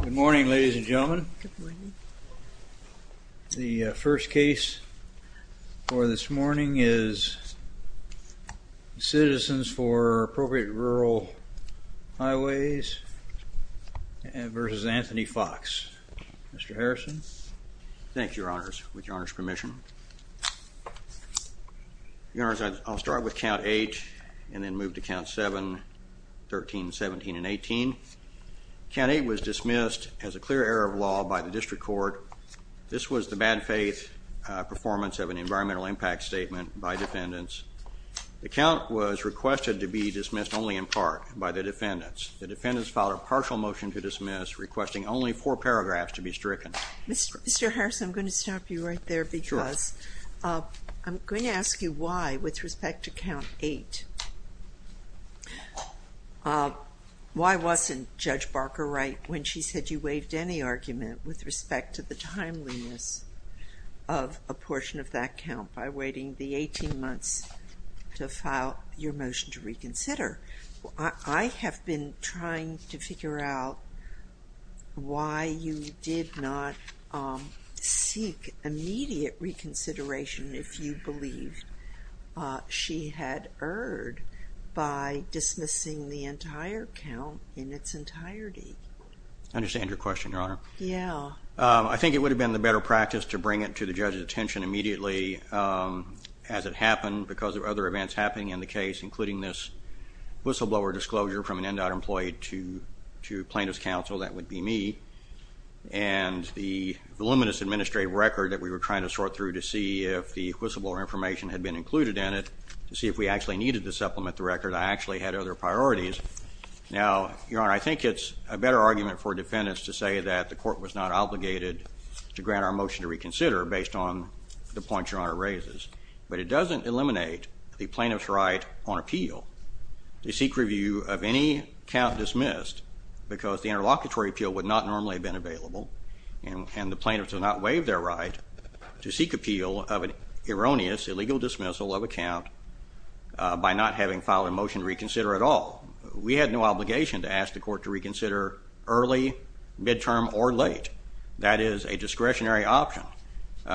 Good morning ladies and gentlemen. The first case for this morning is Citizens for Appropriate Rural Highways v. Anthony Foxx. Mr. Harrison. Thank you, Your Honors, with Your Honor's permission. Your Honors, I'll start with count 8 and then move to count 7, 13, 17, and 18. Count 8 was dismissed as a clear error of law by the District Court. This was the bad faith performance of an environmental impact statement by defendants. The count was requested to be dismissed only in part by the defendants. The defendants filed a partial motion to dismiss, requesting only four paragraphs to be stricken. Mr. Harrison, I'm going to stop you right there because I'm going to ask you why with when she said you waived any argument with respect to the timeliness of a portion of that count by waiting the 18 months to file your motion to reconsider, I have been trying to figure out why you did not seek immediate reconsideration if you believe she had erred by dismissing the entire count in its entirety. I understand your question, Your Honor. Yeah. I think it would have been the better practice to bring it to the judge's attention immediately as it happened because of other events happening in the case, including this whistleblower disclosure from an in-and-out employee to plaintiff's counsel, that would be me, and the voluminous administrative record that we were trying to sort through to see if the plaintiff could supplement the record. I actually had other priorities. Now, Your Honor, I think it's a better argument for defendants to say that the court was not obligated to grant our motion to reconsider based on the points Your Honor raises, but it doesn't eliminate the plaintiff's right on appeal to seek review of any count dismissed because the interlocutory appeal would not normally have been available, and the plaintiffs will not waive their right to seek appeal of an erroneous, illegal dismissal of a count by not having filed a motion to reconsider at all. We had no obligation to ask the court to reconsider early, midterm, or late. That is a discretionary option.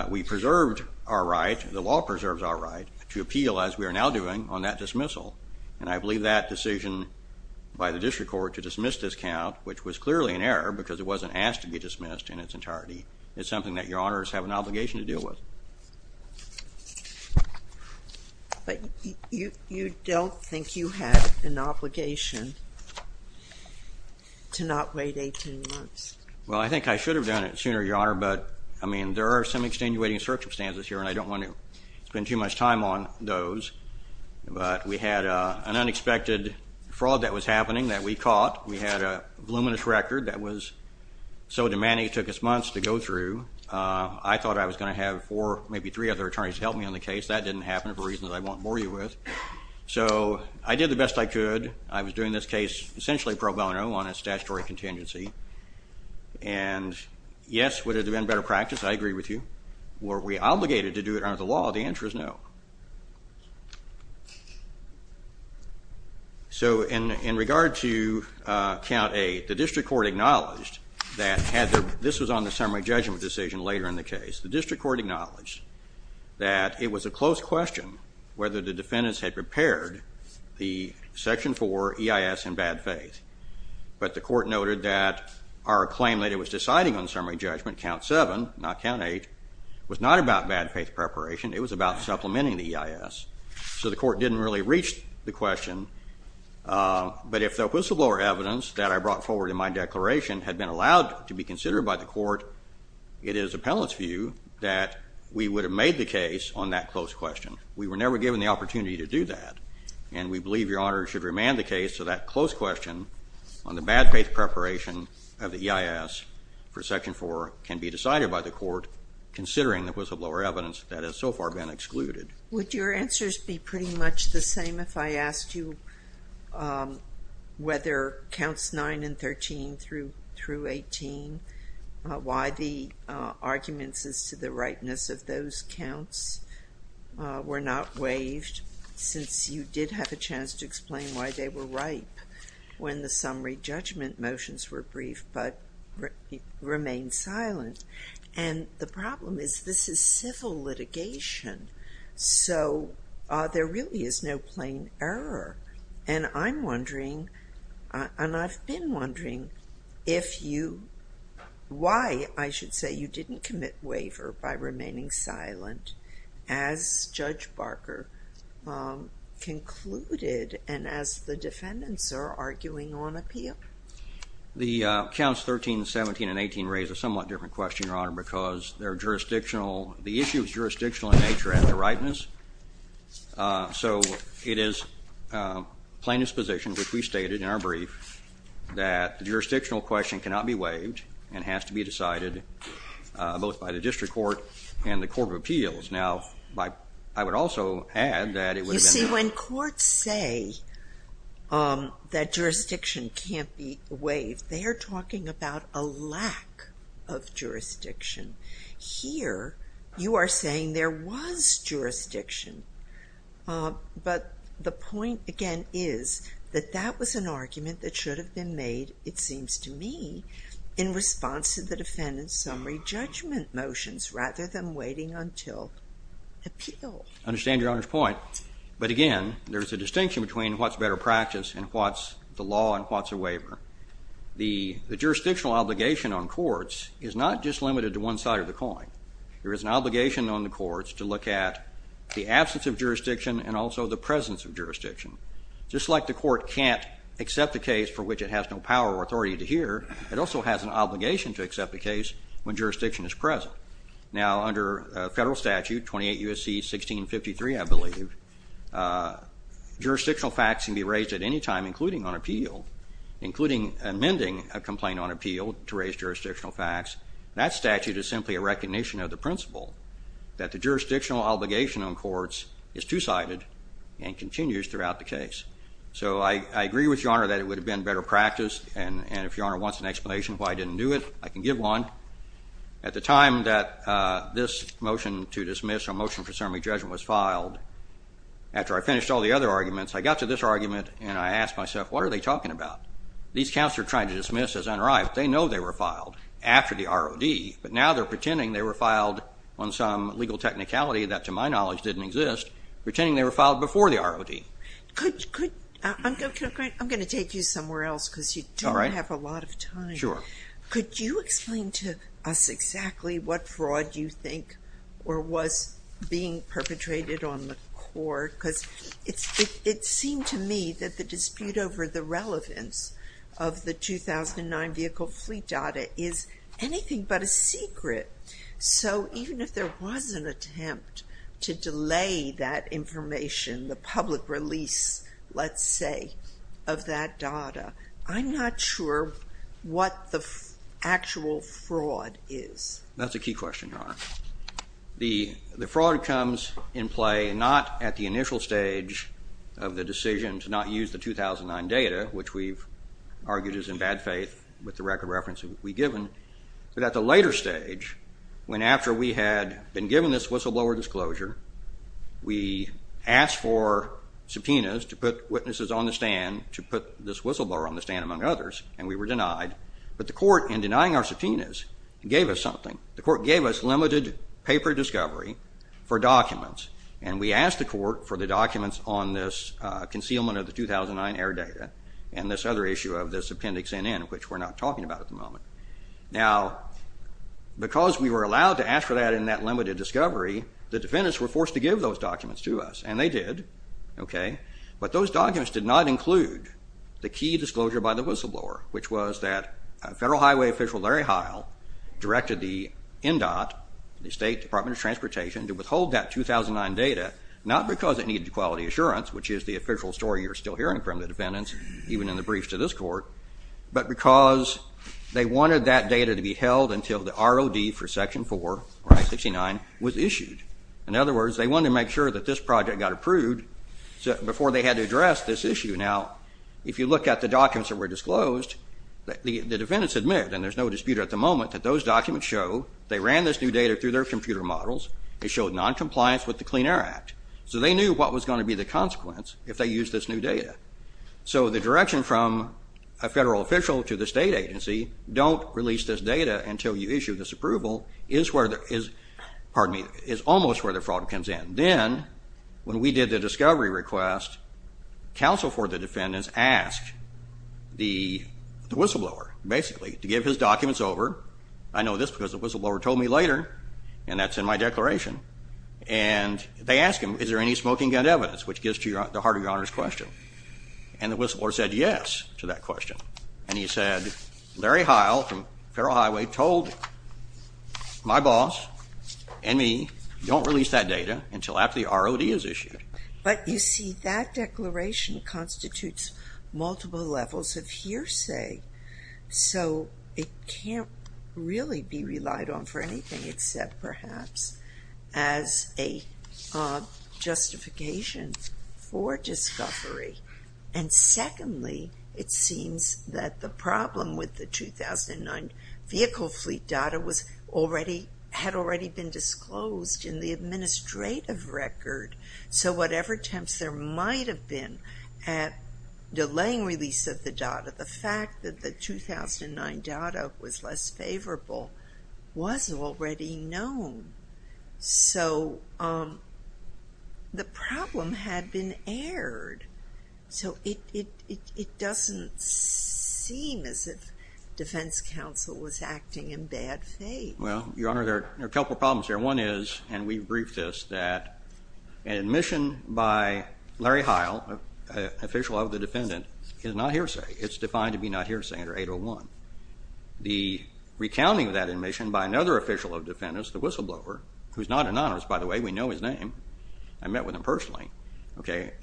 We preserved our right, the law preserves our right, to appeal as we are now doing on that dismissal, and I believe that decision by the district court to dismiss this count, which was clearly an error because it wasn't asked to be dismissed in its entirety, is something that Your Honors have an obligation to deal with. But you don't think you had an obligation to not wait 18 months? Well, I think I should have done it sooner, Your Honor, but I mean, there are some extenuating circumstances here, and I don't want to spend too much time on those, but we had an unexpected fraud that was happening that we caught. We had a voluminous record that was so demanding it took us months to go through. I thought I was going to have four, maybe three other attorneys help me on the case. That didn't happen for reasons I won't bore you with. So I did the best I could. I was doing this case essentially pro bono on a statutory contingency, and yes, would it have been better practice? I agree with you. Were we obligated to do it under the law? The answer is no. So, in regard to Count 8, the district court acknowledged that this was on the summary judgment decision later in the case. The district court acknowledged that it was a close question whether the defendants had prepared the Section 4 EIS in bad faith, but the court noted that our claim that it was deciding on summary judgment, Count 7, not Count 8, was not about bad faith preparation. It was about supplementing the EIS. So the court didn't really reach the question, but if the whistleblower evidence that I brought forward in my declaration had been allowed to be considered by the court, it is the appellate's view that we would have made the case on that close question. We were never given the opportunity to do that, and we believe Your Honor should remand the case so that close question on the bad faith preparation of the EIS for Section 4 can be decided by the court, considering the whistleblower evidence that has so far been excluded. Would your answers be pretty much the same if I asked you whether Counts 9 and 13 through 18, why the arguments as to the ripeness of those counts were not waived, since you did have a chance to explain why they were ripe when the summary judgment motions were brief but remained silent? And the problem is this is civil litigation, so there really is no plain error. And I'm wondering, and I've been wondering if you, why, I should say, you didn't commit waiver by remaining silent as Judge Barker concluded, and as the defendants are arguing on appeal? The Counts 13, 17, and 18 raise a somewhat different question, Your Honor, because their jurisdictional, the issue is jurisdictional in nature and the ripeness, so it is plain disposition which we stated in our brief that the jurisdictional question cannot be waived and has to be decided both by the district court and the court of appeals. Now, I would also add that it would have been... You see, when courts say that jurisdiction can't be waived, they're talking about a lack of jurisdiction. Here, you are saying there was jurisdiction, but the point, again, is that that was an argument that should have been made, it seems to me, in response to the defendant's summary judgment motions rather than waiting until appeal. I understand Your Honor's point, but again, there's a distinction between what's better practice and what's the law and what's a waiver. The jurisdictional obligation on courts is not just limited to one side of the coin. There is an obligation on the courts to look at the absence of jurisdiction and also the presence of jurisdiction. Just like the court can't accept a case for which it has no power or authority to hear, it also has an obligation to accept a case when jurisdiction is present. Now, under a federal statute, 28 U.S.C. 1653, I believe, jurisdictional facts can be raised at any time, including on appeal, including amending a complaint on appeal to raise jurisdictional facts. That statute is simply a recognition of the principle that the jurisdictional obligation on courts is two-sided and continues throughout the case. So I agree with Your Honor that it would have been better practice, and if Your Honor wants an explanation of why I didn't do it, I can give one. At the time that this motion to dismiss a motion for summary judgment was filed, after I finished all the other arguments, I got to this argument and I asked myself, what are they talking about? These counselors are trying to dismiss as unrivaled. They know they were filed after the ROD, but now they're pretending they were filed on some legal technicality that, to my knowledge, didn't exist, pretending they were filed before the ROD. Could, could, I'm going to take you somewhere else because you don't have a lot of time. Sure. Could you explain to us exactly what fraud you think or was being perpetrated on the court? Because it seemed to me that the dispute over the relevance of the 2009 vehicle fleet data is anything but a secret. So even if there was an attempt to delay that information, the public release, let's say, of that data, I'm not sure what the actual fraud is. That's a key question, Your Honor. The, the fraud comes in play not at the initial stage of the decision to not use the 2009 data, which we've argued is in bad faith with the record reference that we've given, but at the later stage, when after we had been given this whistleblower disclosure, we asked for subpoenas to put witnesses on the stand to put this whistleblower on the stand, among others, and we were denied. But the court, in denying our subpoenas, gave us something. The court gave us limited paper discovery for documents, and we asked the court for the documents on this concealment of the 2009 air data and this other issue of this Appendix NN, which we're not talking about at the moment. Now, because we were allowed to ask for that in that limited discovery, the defendants were forced to give those documents to us, and they did, okay, but those documents did not include the key disclosure by the whistleblower, which was that Federal Highway Official Larry Heil directed the NDOT, the State Department of Transportation, to withhold that 2009 data, not because it needed quality assurance, which is the official story you're still hearing from the defendants, even in the briefs to this court, but because they wanted that data to be held until the ROD for Section 4, or Act 69, was issued. In other words, they wanted to make sure that this project got approved before they had to address this issue. Now, if you look at the documents that were disclosed, the defendants admit, and there's no dispute at the moment, that those documents show they ran this new data through their computer models, they showed noncompliance with the Clean Air Act, so they knew what was going to be the problem. So the direction from a federal official to the state agency, don't release this data until you issue this approval, is where the, is, pardon me, is almost where the problem comes in. Then, when we did the discovery request, counsel for the defendants asked the whistleblower, basically, to give his documents over, I know this because the whistleblower told me later, and that's in my declaration, and they asked him, is there any smoking gun evidence, which gets to the heart of your Honor's question, and the whistleblower said yes to that question, and he said, Larry Heil from Federal Highway told my boss and me, don't release that data until after the ROD is issued. But you see, that declaration constitutes multiple levels of hearsay, so it can't really be relied on for anything except perhaps as a justification for discovery. And secondly, it seems that the problem with the 2009 vehicle fleet data was already, had already been disclosed in the administrative record, so whatever attempts there might have been at delaying release of the data, the fact that the 2009 data was less favorable was already known. So the problem had been aired, so it doesn't seem as if defense counsel was acting in bad faith. Well, Your Honor, there are a couple problems there. One is, and we've briefed this, that admission by Larry Heil, official of the defendant, is not hearsay. It's defined to be not hearsay under 801. The recounting of that admission by another official of the defendant, the whistleblower, who's not an honorist, by the way, we know his name, I met with him personally,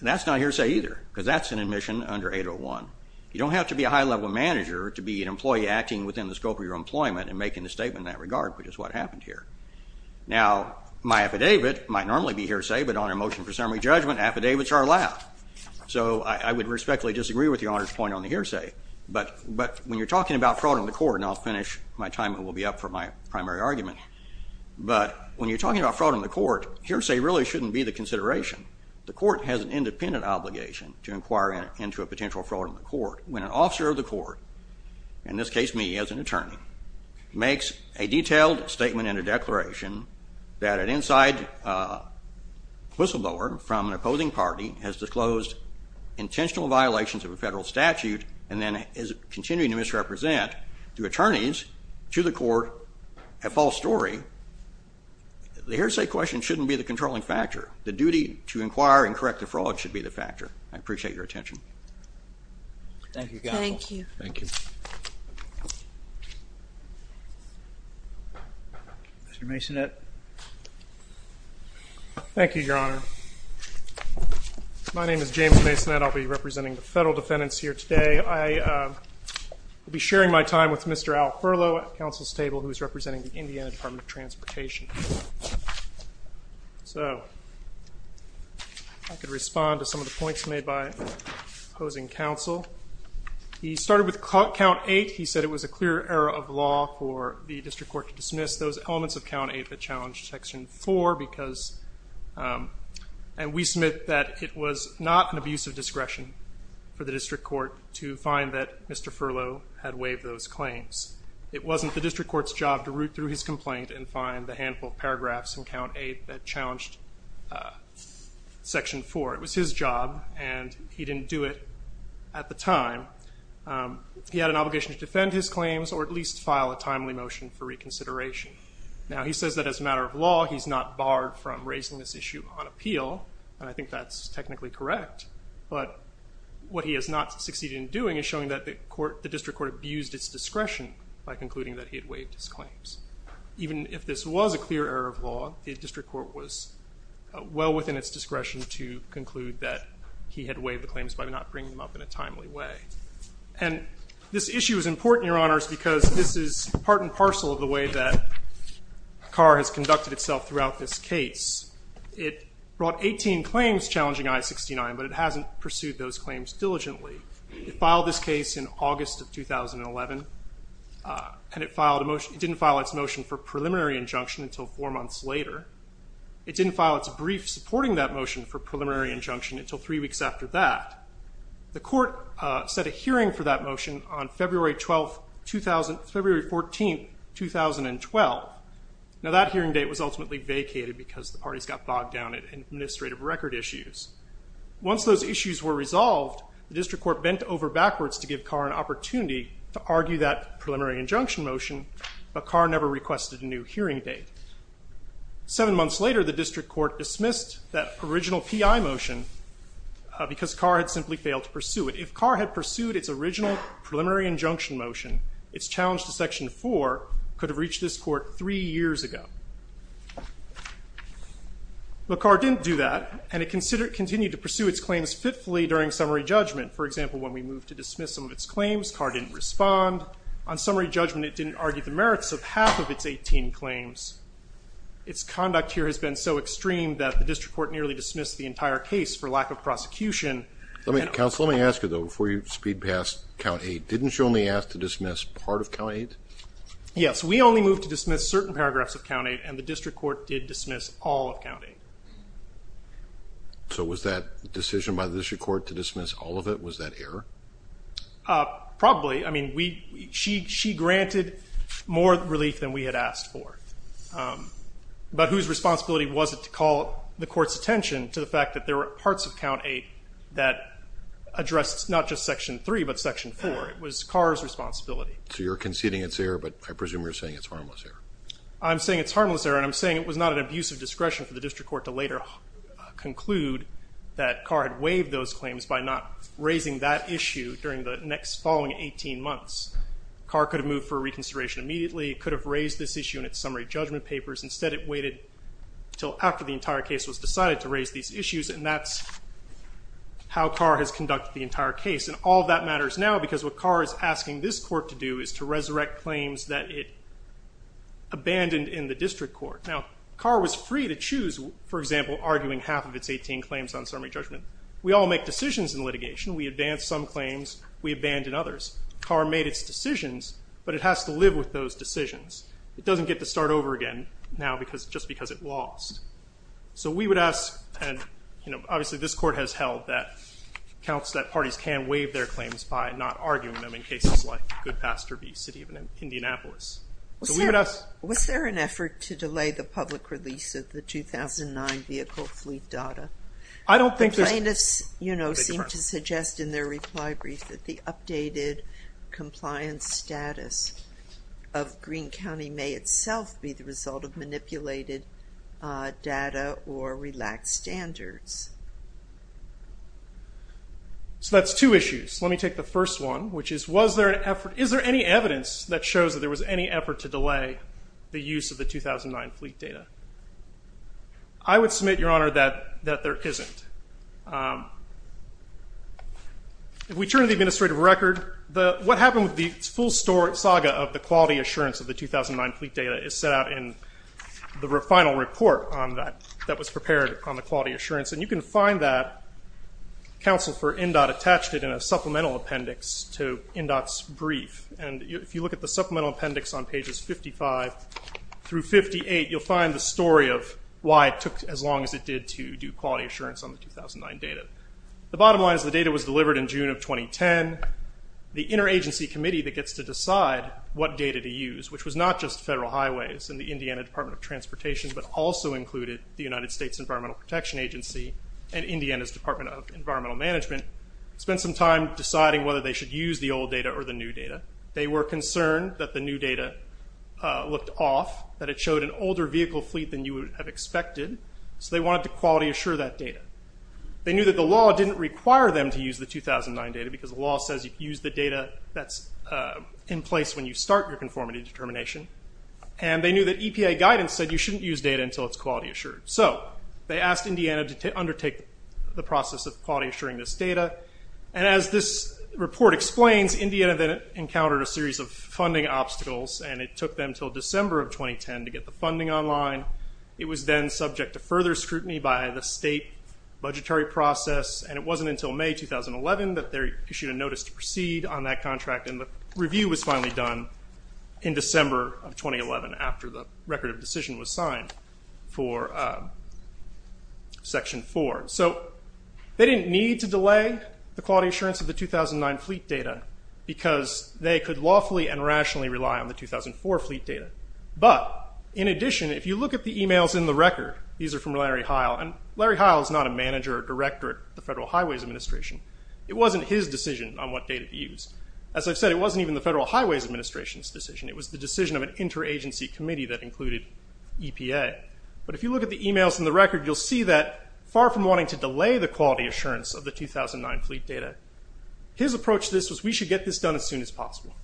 that's not hearsay either, because that's an admission under 801. You don't have to be a high-level manager to be an employee acting within the scope of your employment and making a statement in that regard, which is what happened here. Now, my affidavit might normally be hearsay, but on a motion for summary judgment, affidavits are allowed. So I would respectfully disagree with Your Honor's point on the hearsay, but when you're talking about fraud in the court, and I'll finish my time and it will be up for my primary argument, but when you're talking about fraud in the court, hearsay really shouldn't be the consideration. The court has an independent obligation to inquire into a potential fraud in the court. When an officer of the court, in this case me as an attorney, makes a detailed statement in a declaration that an inside whistleblower from an opposing party has disclosed intentional violations of a federal statute and then is continuing to misrepresent through attorneys to the court a false story, the hearsay question shouldn't be the controlling factor. The duty to inquire and correct the fraud should be the factor. I appreciate your attention. Thank you, counsel. Thank you. Thank you. Mr. Masonette. Thank you, Your Honor. My name is James Masonette. I'll be representing the federal defendants here today. I will be sharing my time with Mr. Al Furlow at counsel's table, who is representing the Indiana Department of Transportation. So I could respond to some of the points made by opposing counsel. He started with count eight. He said it was a clear error of law for the district court to dismiss those elements of count eight that challenged section four because, and we submit that it was not an abuse of discretion for the district court to find that Mr. Furlow had waived those claims. It wasn't the district court's job to root through his complaint and find the handful of paragraphs in count eight that challenged section four. It was his job, and he didn't do it at the time. He had an obligation to defend his claims or at least file a timely motion for reconsideration. Now, he says that as a matter of law, he's not barred from raising this issue on appeal, and I think that's technically correct. But what he has not succeeded in doing is showing that the district court abused its discretion by concluding that he had waived his claims. Even if this was a clear error of law, the district court was well within its discretion to conclude that he had waived the claims by not bringing them up in a timely way. And this issue is important, Your Honors, because this is part and parcel of the way that CAR has conducted itself throughout this case. It brought 18 claims challenging I-69, but it hasn't pursued those claims diligently. It filed this case in August of 2011, and it didn't file its motion for preliminary injunction until three months later. It didn't file its brief supporting that motion for preliminary injunction until three weeks after that. The court set a hearing for that motion on February 14, 2012. Now, that hearing date was ultimately vacated because the parties got bogged down in administrative record issues. Once those issues were resolved, the district court bent over backwards to give CAR an opportunity to argue that preliminary injunction motion, but CAR never requested a new hearing date. Seven months later, the district court dismissed that original PI motion because CAR had simply failed to pursue it. If CAR had pursued its original preliminary injunction motion, its challenge to Section 4 could have reached this court three years ago. But CAR didn't do that, and it continued to pursue its claims fitfully during summary judgment. For example, when we moved to dismiss some of its claims, CAR didn't respond. On summary judgment, it didn't argue the merits of half of its 18 claims. Its conduct here has been so extreme that the district court nearly dismissed the entire case for lack of prosecution. Let me, counsel, let me ask you, though, before you speed past Count 8, didn't you only ask to dismiss part of Count 8? Yes, we only moved to dismiss certain paragraphs of Count 8, and the district court did dismiss all of Count 8. So was that decision by the district court to dismiss all of it, was that error? Probably. I mean, she granted more relief than we had asked for. But whose responsibility was it to call the court's attention to the fact that there were parts of Count 8 that addressed not just Section 3 but Section 4? It was CAR's responsibility. So you're conceding it's error, but I presume you're saying it's harmless error. I'm saying it's harmless error, and I'm saying it was not an abuse of discretion for the following 18 months. CAR could have moved for reconsideration immediately. It could have raised this issue in its summary judgment papers. Instead, it waited until after the entire case was decided to raise these issues, and that's how CAR has conducted the entire case. And all of that matters now because what CAR is asking this court to do is to resurrect claims that it abandoned in the district court. Now, CAR was free to choose, for example, arguing half of its 18 claims on summary judgment. We all make decisions in litigation. We advance some claims. We abandon others. CAR made its decisions, but it has to live with those decisions. It doesn't get to start over again now just because it lost. So we would ask, and obviously this court has held that counts that parties can waive their claims by not arguing them in cases like Goodpasture v. City of Indianapolis. Was there an effort to delay the public release of the 2009 vehicle fleet data? The plaintiffs, you know, seem to suggest in their reply brief that the updated compliance status of Greene County may itself be the result of manipulated data or relaxed standards. So that's two issues. Let me take the first one, which is, is there any evidence that shows that there was any effort to delay the use of the 2009 fleet data? I would submit, Your Honor, that there isn't. If we turn to the administrative record, what happened with the full saga of the quality assurance of the 2009 fleet data is set out in the final report that was prepared on the quality assurance. And you can find that counsel for NDOT attached it in a supplemental appendix to NDOT's brief. And if you look at the supplemental appendix on pages 55 through 58, you'll find the story of why it took as long as it did to do quality assurance on the 2009 data. The bottom line is the data was delivered in June of 2010. The interagency committee that gets to decide what data to use, which was not just Federal Highways and the Indiana Department of Transportation, but also included the United States Environmental Protection Agency and Indiana's Department of Environmental Management, spent some time deciding whether they should use the old data or the new data. They were concerned that the new data looked off, that it showed an older vehicle fleet than you would have expected, so they wanted to quality assure that data. They knew that the law didn't require them to use the 2009 data because the law says you use the data that's in place when you start your conformity determination. And they knew that EPA guidance said you shouldn't use data until it's quality assured. So they asked Indiana to undertake the process of quality assuring this data. And as this report explains, Indiana then encountered a series of funding obstacles, and it took them until December of 2010 to get the funding online. It was then subject to further scrutiny by the state budgetary process, and it wasn't until May 2011 that they issued a notice to proceed on that contract, and the review was finally done in December of 2011, after the record of decision was signed for Section 4. So they didn't need to delay the quality assurance of the 2009 fleet data, because they could lawfully and rationally rely on the 2004 fleet data. But in addition, if you look at the emails in the record, these are from Larry Heil, and Larry Heil is not a manager or director at the Federal Highways Administration. It wasn't his decision on what data to use. As I've said, it wasn't even the Federal Highways Administration's decision. It was the decision of an interagency committee that included EPA. But if you look at the emails in the record, you'll see that far from wanting to delay the quality assurance of the 2009 fleet data, his approach to this was, we should get this done as soon as possible.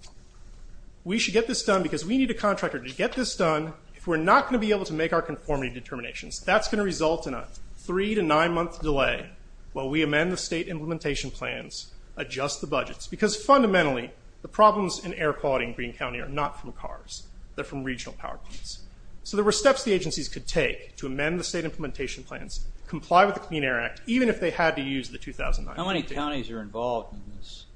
We should get this done because we need a contractor to get this done if we're not going to be able to make our conformity determinations. That's going to result in a three to nine month delay while we amend the state implementation plans, adjust the budgets. Because fundamentally, the problems in air quality in Greene County are not from cars. They're from regional power plants. So there were steps the agencies could take to amend the state implementation plans, comply with the Clean Air Act, even if they had to use the 2009 fleet data. How many counties are involved in this?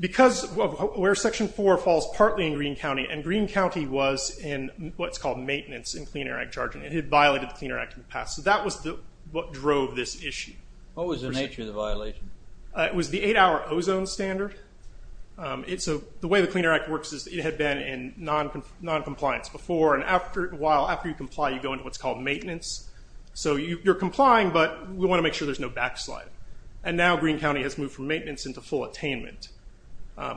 Because where section four falls partly in Greene County, and Greene County was in what's called maintenance in Clean Air Act charging. It had violated the Clean Air Act in the past. So that was what drove this issue. What was the nature of the violation? It was the eight hour ozone standard. So the way the Clean Air Act works is it had been in noncompliance before. And after a while, after you comply, you go into what's called a backslide. And now Greene County has moved from maintenance into full attainment,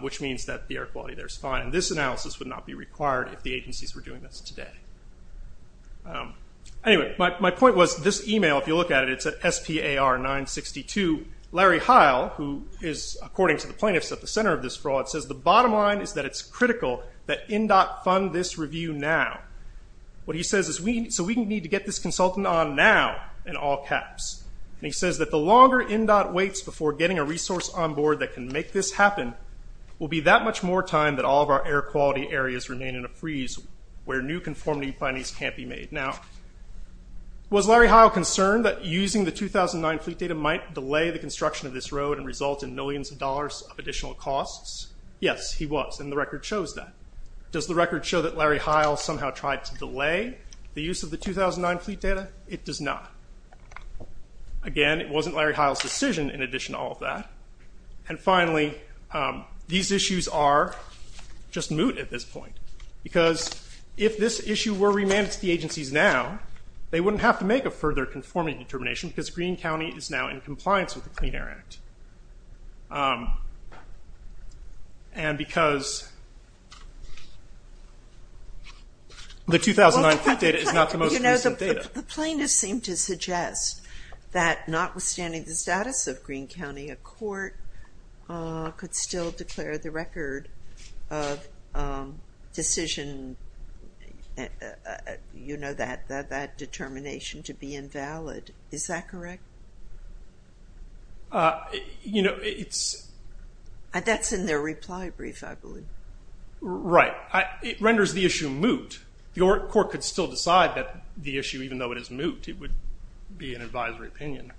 which means that the air quality there is fine. And this analysis would not be required if the agencies were doing this today. Anyway, my point was this email, if you look at it, it's at SPAR962. Larry Heil, who is according to the plaintiffs at the center of this fraud, says the bottom line is that it's critical that NDOT fund this review now. What he says is, so we need to get this consultant on now, in all caps. And he says that the longer NDOT waits before getting a resource on board that can make this happen, will be that much more time that all of our air quality areas remain in a freeze where new conformity findings can't be made. Now, was Larry Heil concerned that using the 2009 fleet data might delay the construction of this road and result in millions of dollars of additional costs? Yes, he was, and the record shows that. Does the record show that Larry Heil somehow tried to delay the use of the 2009 fleet data? It does not. Again, it wasn't Larry Heil's decision in addition to all of that. And finally, these issues are just moot at this point, because if this issue were remanded to the agencies now, they wouldn't have to make a further conformity determination because Greene County is now in compliance with the Clean Air Act. And because the 2009 fleet data is not the most recent data. The plaintiffs seem to suggest that notwithstanding the status of Greene County, a court could still declare the record of decision, you know, that determination to be invalid. Is that correct? You know, it's... That's in their reply brief, I believe. Right. It renders the issue moot. The court could still decide that the issue, even though it is moot, it would be an advisory opinion.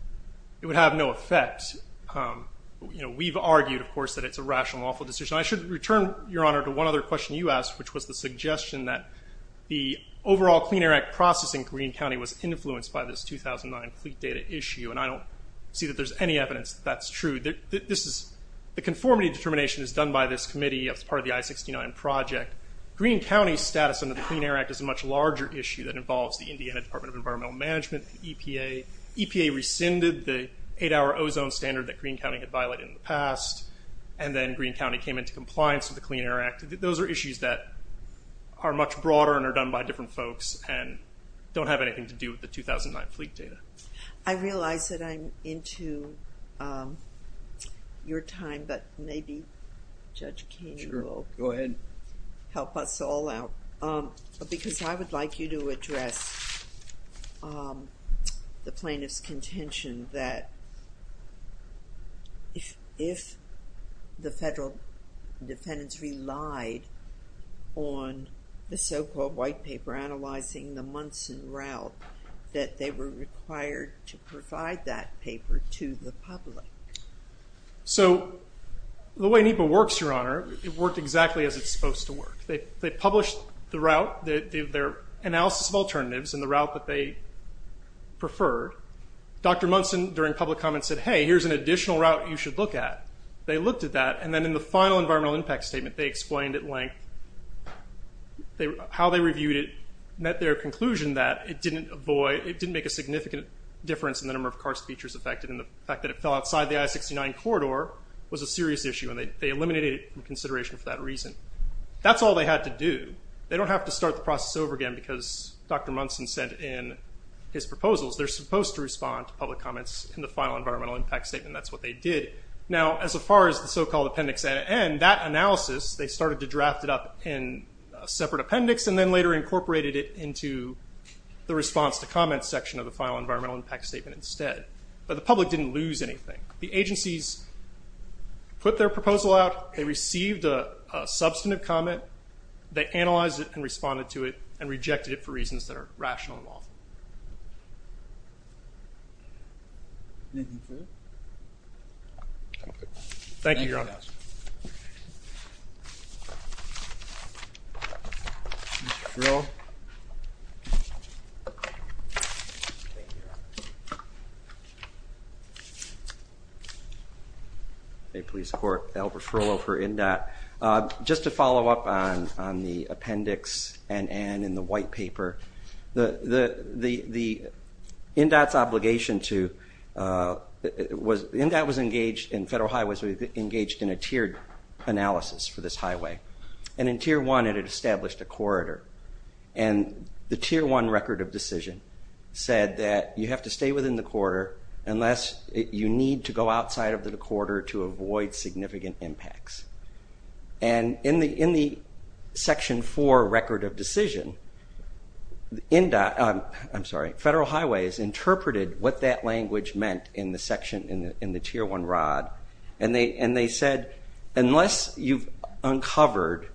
It would have no effect. You know, we've argued, of course, that it's a rational, lawful decision. I should return, Your Honor, to one other question you asked, which was the suggestion that the overall Clean Air Act process in Greene County was influenced by this 2009 fleet data issue. And I don't see that there's any evidence that that's true. This is... The conformity determination is done by this committee as part of the I-69 project. Greene County's status under the Clean Air Act is a much larger issue that involves the Indiana Department of Environmental Management, EPA. EPA rescinded the eight-hour ozone standard that Greene County had violated in the past. And then Greene County came into compliance with the Clean Air Act. Those are issues that are much different from folks and don't have anything to do with the 2009 fleet data. I realize that I'm into your time, but maybe Judge Keene will help us all out. Sure. Go ahead. Because I would like you to address the plaintiff's contention that if the federal defendants relied on the so-called white paper analyzing the Munson route, that they were required to provide that paper to the public. So the way NEPA works, Your Honor, it worked exactly as it's supposed to work. They published the route, their analysis of alternatives, and the route that they preferred. Dr. Munson, during public comment, said, hey, here's an additional route you should look at. They looked at that, and then in the final environmental impact statement, they explained at length how they reviewed it, met their conclusion that it didn't make a significant difference in the number of car speeches affected, and the fact that it fell outside the I-69 corridor was a serious issue, and they eliminated it from consideration for that reason. That's all they had to do. They don't have to start the process over again because Dr. Munson said in his proposals, they're supposed to respond to public comments in the final environmental impact statement. That's what they did. Now, as far as the so-called appendix at the end, that analysis, they started to draft it up in a separate appendix, and then later incorporated it into the response to comment section of the final environmental impact statement instead. But the public didn't lose anything. The agencies put their proposal out, they received a substantive comment, they analyzed it and responded to it, and rejected it for reasons that are rational and lawful. Thank you, Your Honor. Mr. Frillo? Thank you, Your Honor. Bay Police Court, Albert Frillo for NDOT. Just to follow up on the appendix and Anne in the white paper, the NDOT's obligation to... NDOT was engaged in federal highways, we engaged in a tiered analysis for this highway. And in tier one, it had established a corridor. And the tier one record of decision said that you have to stay within the corridor unless you need to go outside of the corridor to avoid significant impacts. And in the section four record of decision, NDOT... I'm sorry, federal highways interpreted what that language meant in the section, in the tier one rod. And they said, unless you've uncovered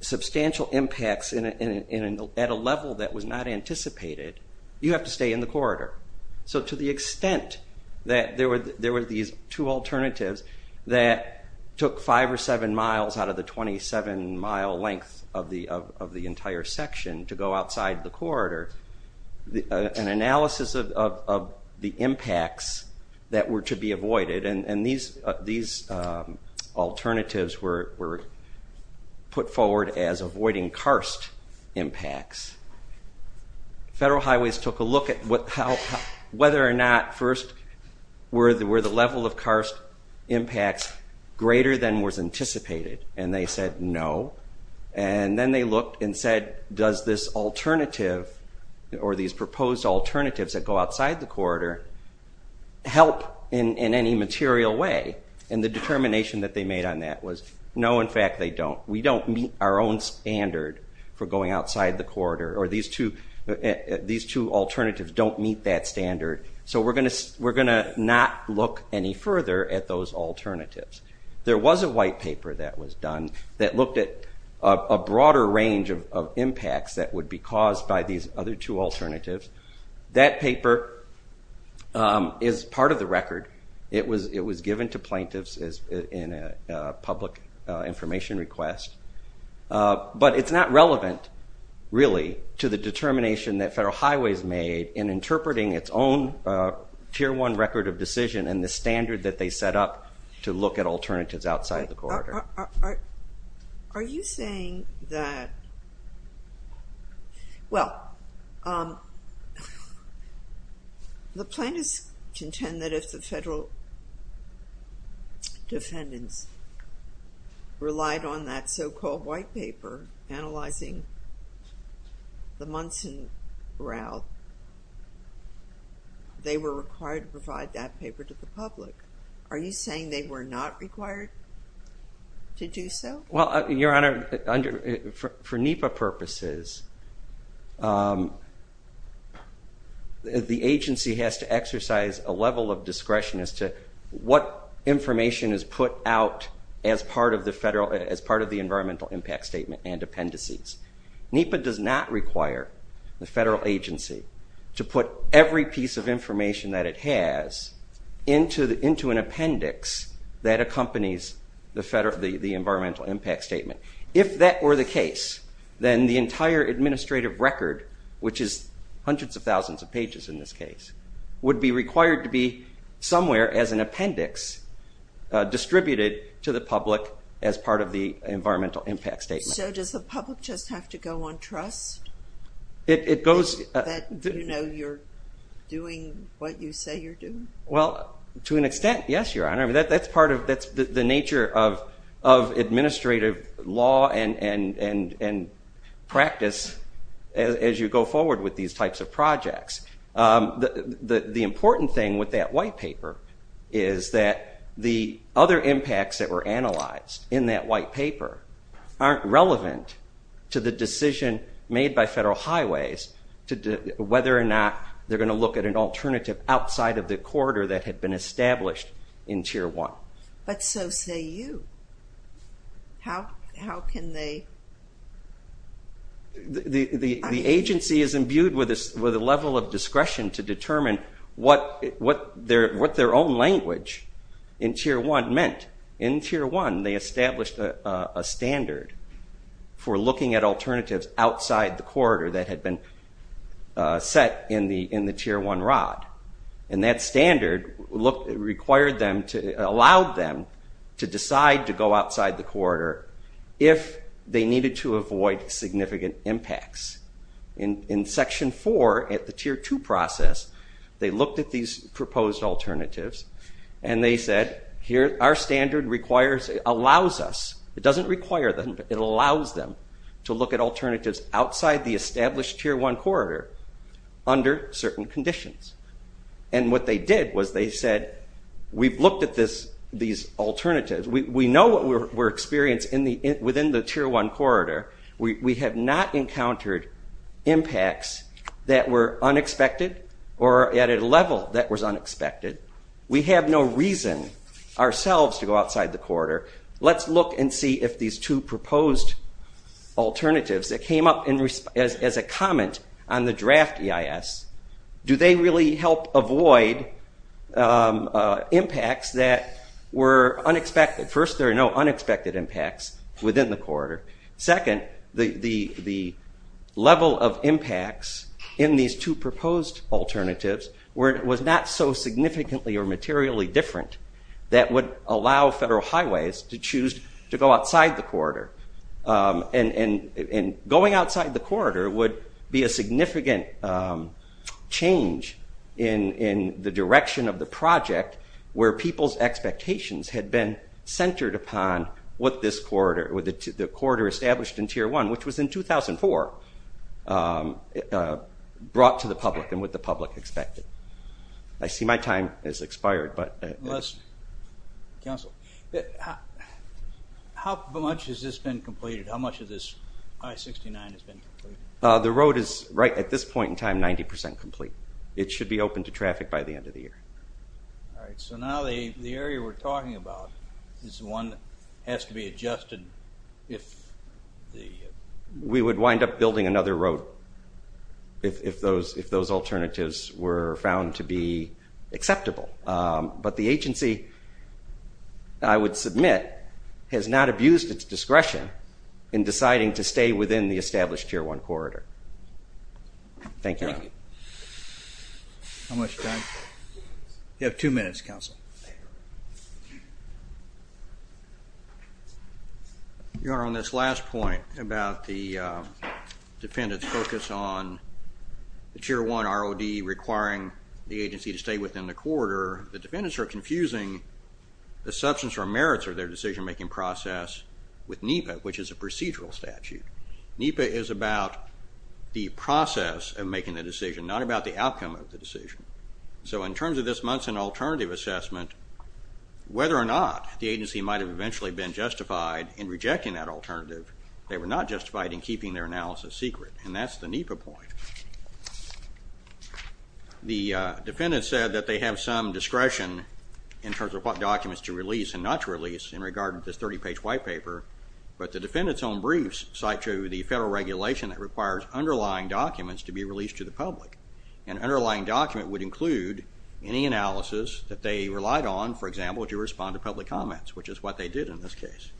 substantial impacts at a level that was not anticipated, you have to stay in the corridor. So to the extent that there were these two alternatives that took five or seven miles out of the 27 mile length of the entire section to go outside the corridor, an analysis of the impacts that were to be avoided, and these alternatives were put forward as avoiding karst impacts. Federal highways took a look at whether or not, first, were the level of karst impacts greater than was anticipated? And they said, no. And then they looked and said, does this alternative, or these proposed alternatives that go outside the corridor, help in any material way? And the determination that they made on that was, no, in fact, they don't. We don't meet our own standard for going outside the corridor, or these two alternatives don't meet that standard. So we're gonna not look any further at those alternatives. There was a white paper that was done that looked at a broader range of impacts that would be caused by these other two alternatives. That paper is part of the record. It was given to plaintiffs in a public information request. But it's not relevant, really, to the determination that Federal Highways made in interpreting its own Tier 1 record of decision and the standard that they set up to look at alternatives outside the corridor. Are you saying that, well, the plaintiffs contend that if the federal defendants relied on that so-called white paper analyzing the Munson Route, they were required to provide that paper to the public. Are you saying they were not required to do so? Well, Your Honor, for NEPA purposes, the agency has to exercise a level of discretion as to what information is put out as part of the Environmental Impact Statement and appendices. NEPA does not require the federal agency to put every piece of information that it has into an appendix that accompanies the Environmental Impact Statement. If that were the case, then the entire administrative record, which is hundreds of thousands of pages in this case, would be required to be somewhere as an appendix distributed to the public as part of the Environmental Impact Statement. So does the public just have to go on trust? It goes... That you know you're doing what you say you're doing? Well, to an extent, yes, Your Honor. That's part of... That's the nature of administrative law and practice as you go forward with these types of projects. The important thing with that white paper is that the other impacts that were analyzed in that white paper aren't relevant to the decision made by Federal Highways to whether or not they're going to look at an alternative outside of the corridor that had been established in Tier 1. But so say you. How can they... The agency is imbued with a level of discretion to determine what their own language in Tier 1 meant. In Tier 1, they established a standard for looking at alternatives outside the corridor that to decide to go outside the corridor if they needed to avoid significant impacts. In Section 4 at the Tier 2 process, they looked at these proposed alternatives and they said, here, our standard requires... It allows us. It doesn't require them. It allows them to look at alternatives outside the established Tier 1 corridor under certain conditions. And what they did was they said, we've looked at these alternatives. We know what we're experiencing within the Tier 1 corridor. We have not encountered impacts that were unexpected or at a level that was unexpected. We have no reason ourselves to go outside the corridor. Let's look and see if these two proposed alternatives that came up as a comment on the draft EIS, do they really help avoid impacts that were unexpected? First, there are no unexpected impacts within the corridor. Second, the level of impacts in these two proposed alternatives was not so significantly or materially different that would allow federal highways to choose to go outside the corridor. And going outside the corridor would be a significant change in the direction of the project where people's expectations had been centered upon what this corridor... The corridor established in Tier 1, which was in 2004, brought to the public and what the public expected. I see my time has expired, but... Council, how much has this been completed? How much of this I-69 has been completed? The road is, right at this point in time, 90% complete. It should be open to traffic by the end of the year. All right, so now the area we're talking about is the one that has to be adjusted if the... We would wind up building another road if those alternatives were found to be but the agency, I would submit, has not abused its discretion in deciding to stay within the established Tier 1 corridor. Thank you. How much time? You have two minutes, Council. Your Honor, on this last point about the defendant's focus on the Tier 1 ROD requiring the agency to stay within the corridor, the defendants are confusing the substance or merits of their decision-making process with NEPA, which is a procedural statute. NEPA is about the process of making the decision, not about the outcome of the decision. So in terms of this Munson alternative assessment, whether or not the agency might have eventually been justified in rejecting that alternative, they were not justified in keeping their analysis secret, and that's the NEPA point. The defendant said that they have some discretion in terms of what documents to release and not to release in regard to this 30-page white paper, but the defendant's own briefs cite to the federal regulation that requires underlying documents to be released to the public. An underlying document would include any analysis that they relied on, for example, to respond to public comments, which is what they did in this case.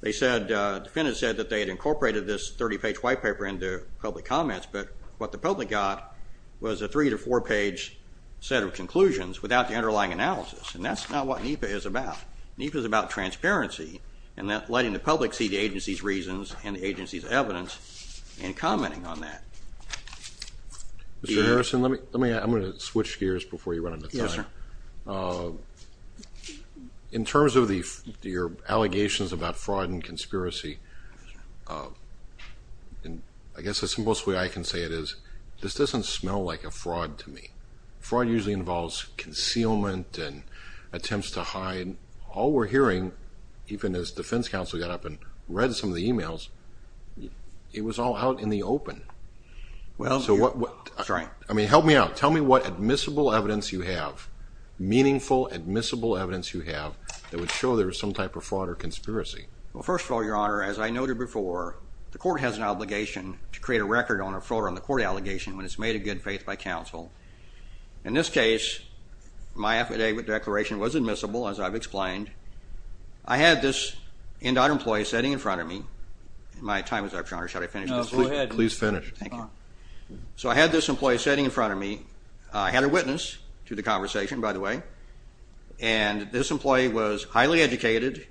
The defendant said that they had incorporated this 30-page white paper into public comments, but what the public got was a three- to four-page set of conclusions without the underlying analysis, and that's not what NEPA is about. NEPA is about transparency and letting the public see the agency's reasons and the agency's evidence and commenting on that. Mr. Harrison, I'm going to switch gears before you run out of time. In terms of your allegations about fraud and conspiracy, and I guess the simplest way I can say it is, this doesn't smell like a fraud to me. Fraud usually involves concealment and attempts to hide. All we're hearing, even as defense counsel got up and read some of the emails, it was all out in the open. I mean, help me out. Tell me what admissible evidence you have, meaningful admissible evidence you have, that would show there was some type of fraud or conspiracy. Well, first of all, Your Honor, as I noted before, the court has an obligation to create a record on a fraud on the court allegation when it's made in good faith by counsel. In this case, my affidavit declaration was admissible, as I've explained. I had this end-odd employee sitting in front of me. My time is up, Your Honor, should I finish this? No, go ahead. Please finish. Thank you. So I had this employee sitting in front of me. I had a witness to the conversation, by the way, and this employee was highly educated.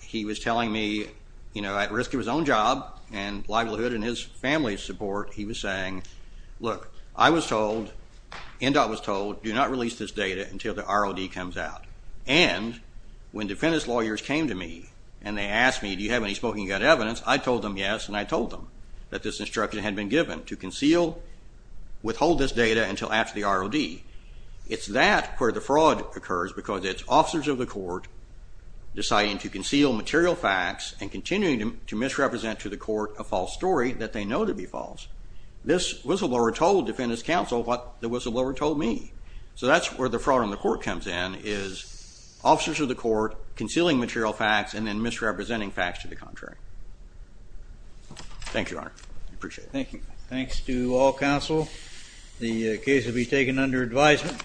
He was telling me, you know, at risk of his own job and livelihood and his family's support, he was saying, look, I was told, end-odd was told, do not release this data until the ROD comes out. And when defendant's lawyers came to me and they asked me, do you have any smoking gun evidence, I told them yes, and I told them that this instruction had been given to conceal, withhold this data until after the ROD. It's that where the fraud occurs, because it's officers of the court deciding to conceal material facts and continuing to misrepresent to the court a false story that they know to be false. This whistleblower told defendant's counsel what the whistleblower told me. So that's where the fraud on the court comes in, is officers of the court concealing material facts and then misrepresenting facts to the contrary. Thank you, Your Honor. I appreciate it. Thank you. Thanks to all counsel. The case will be taken under advisement.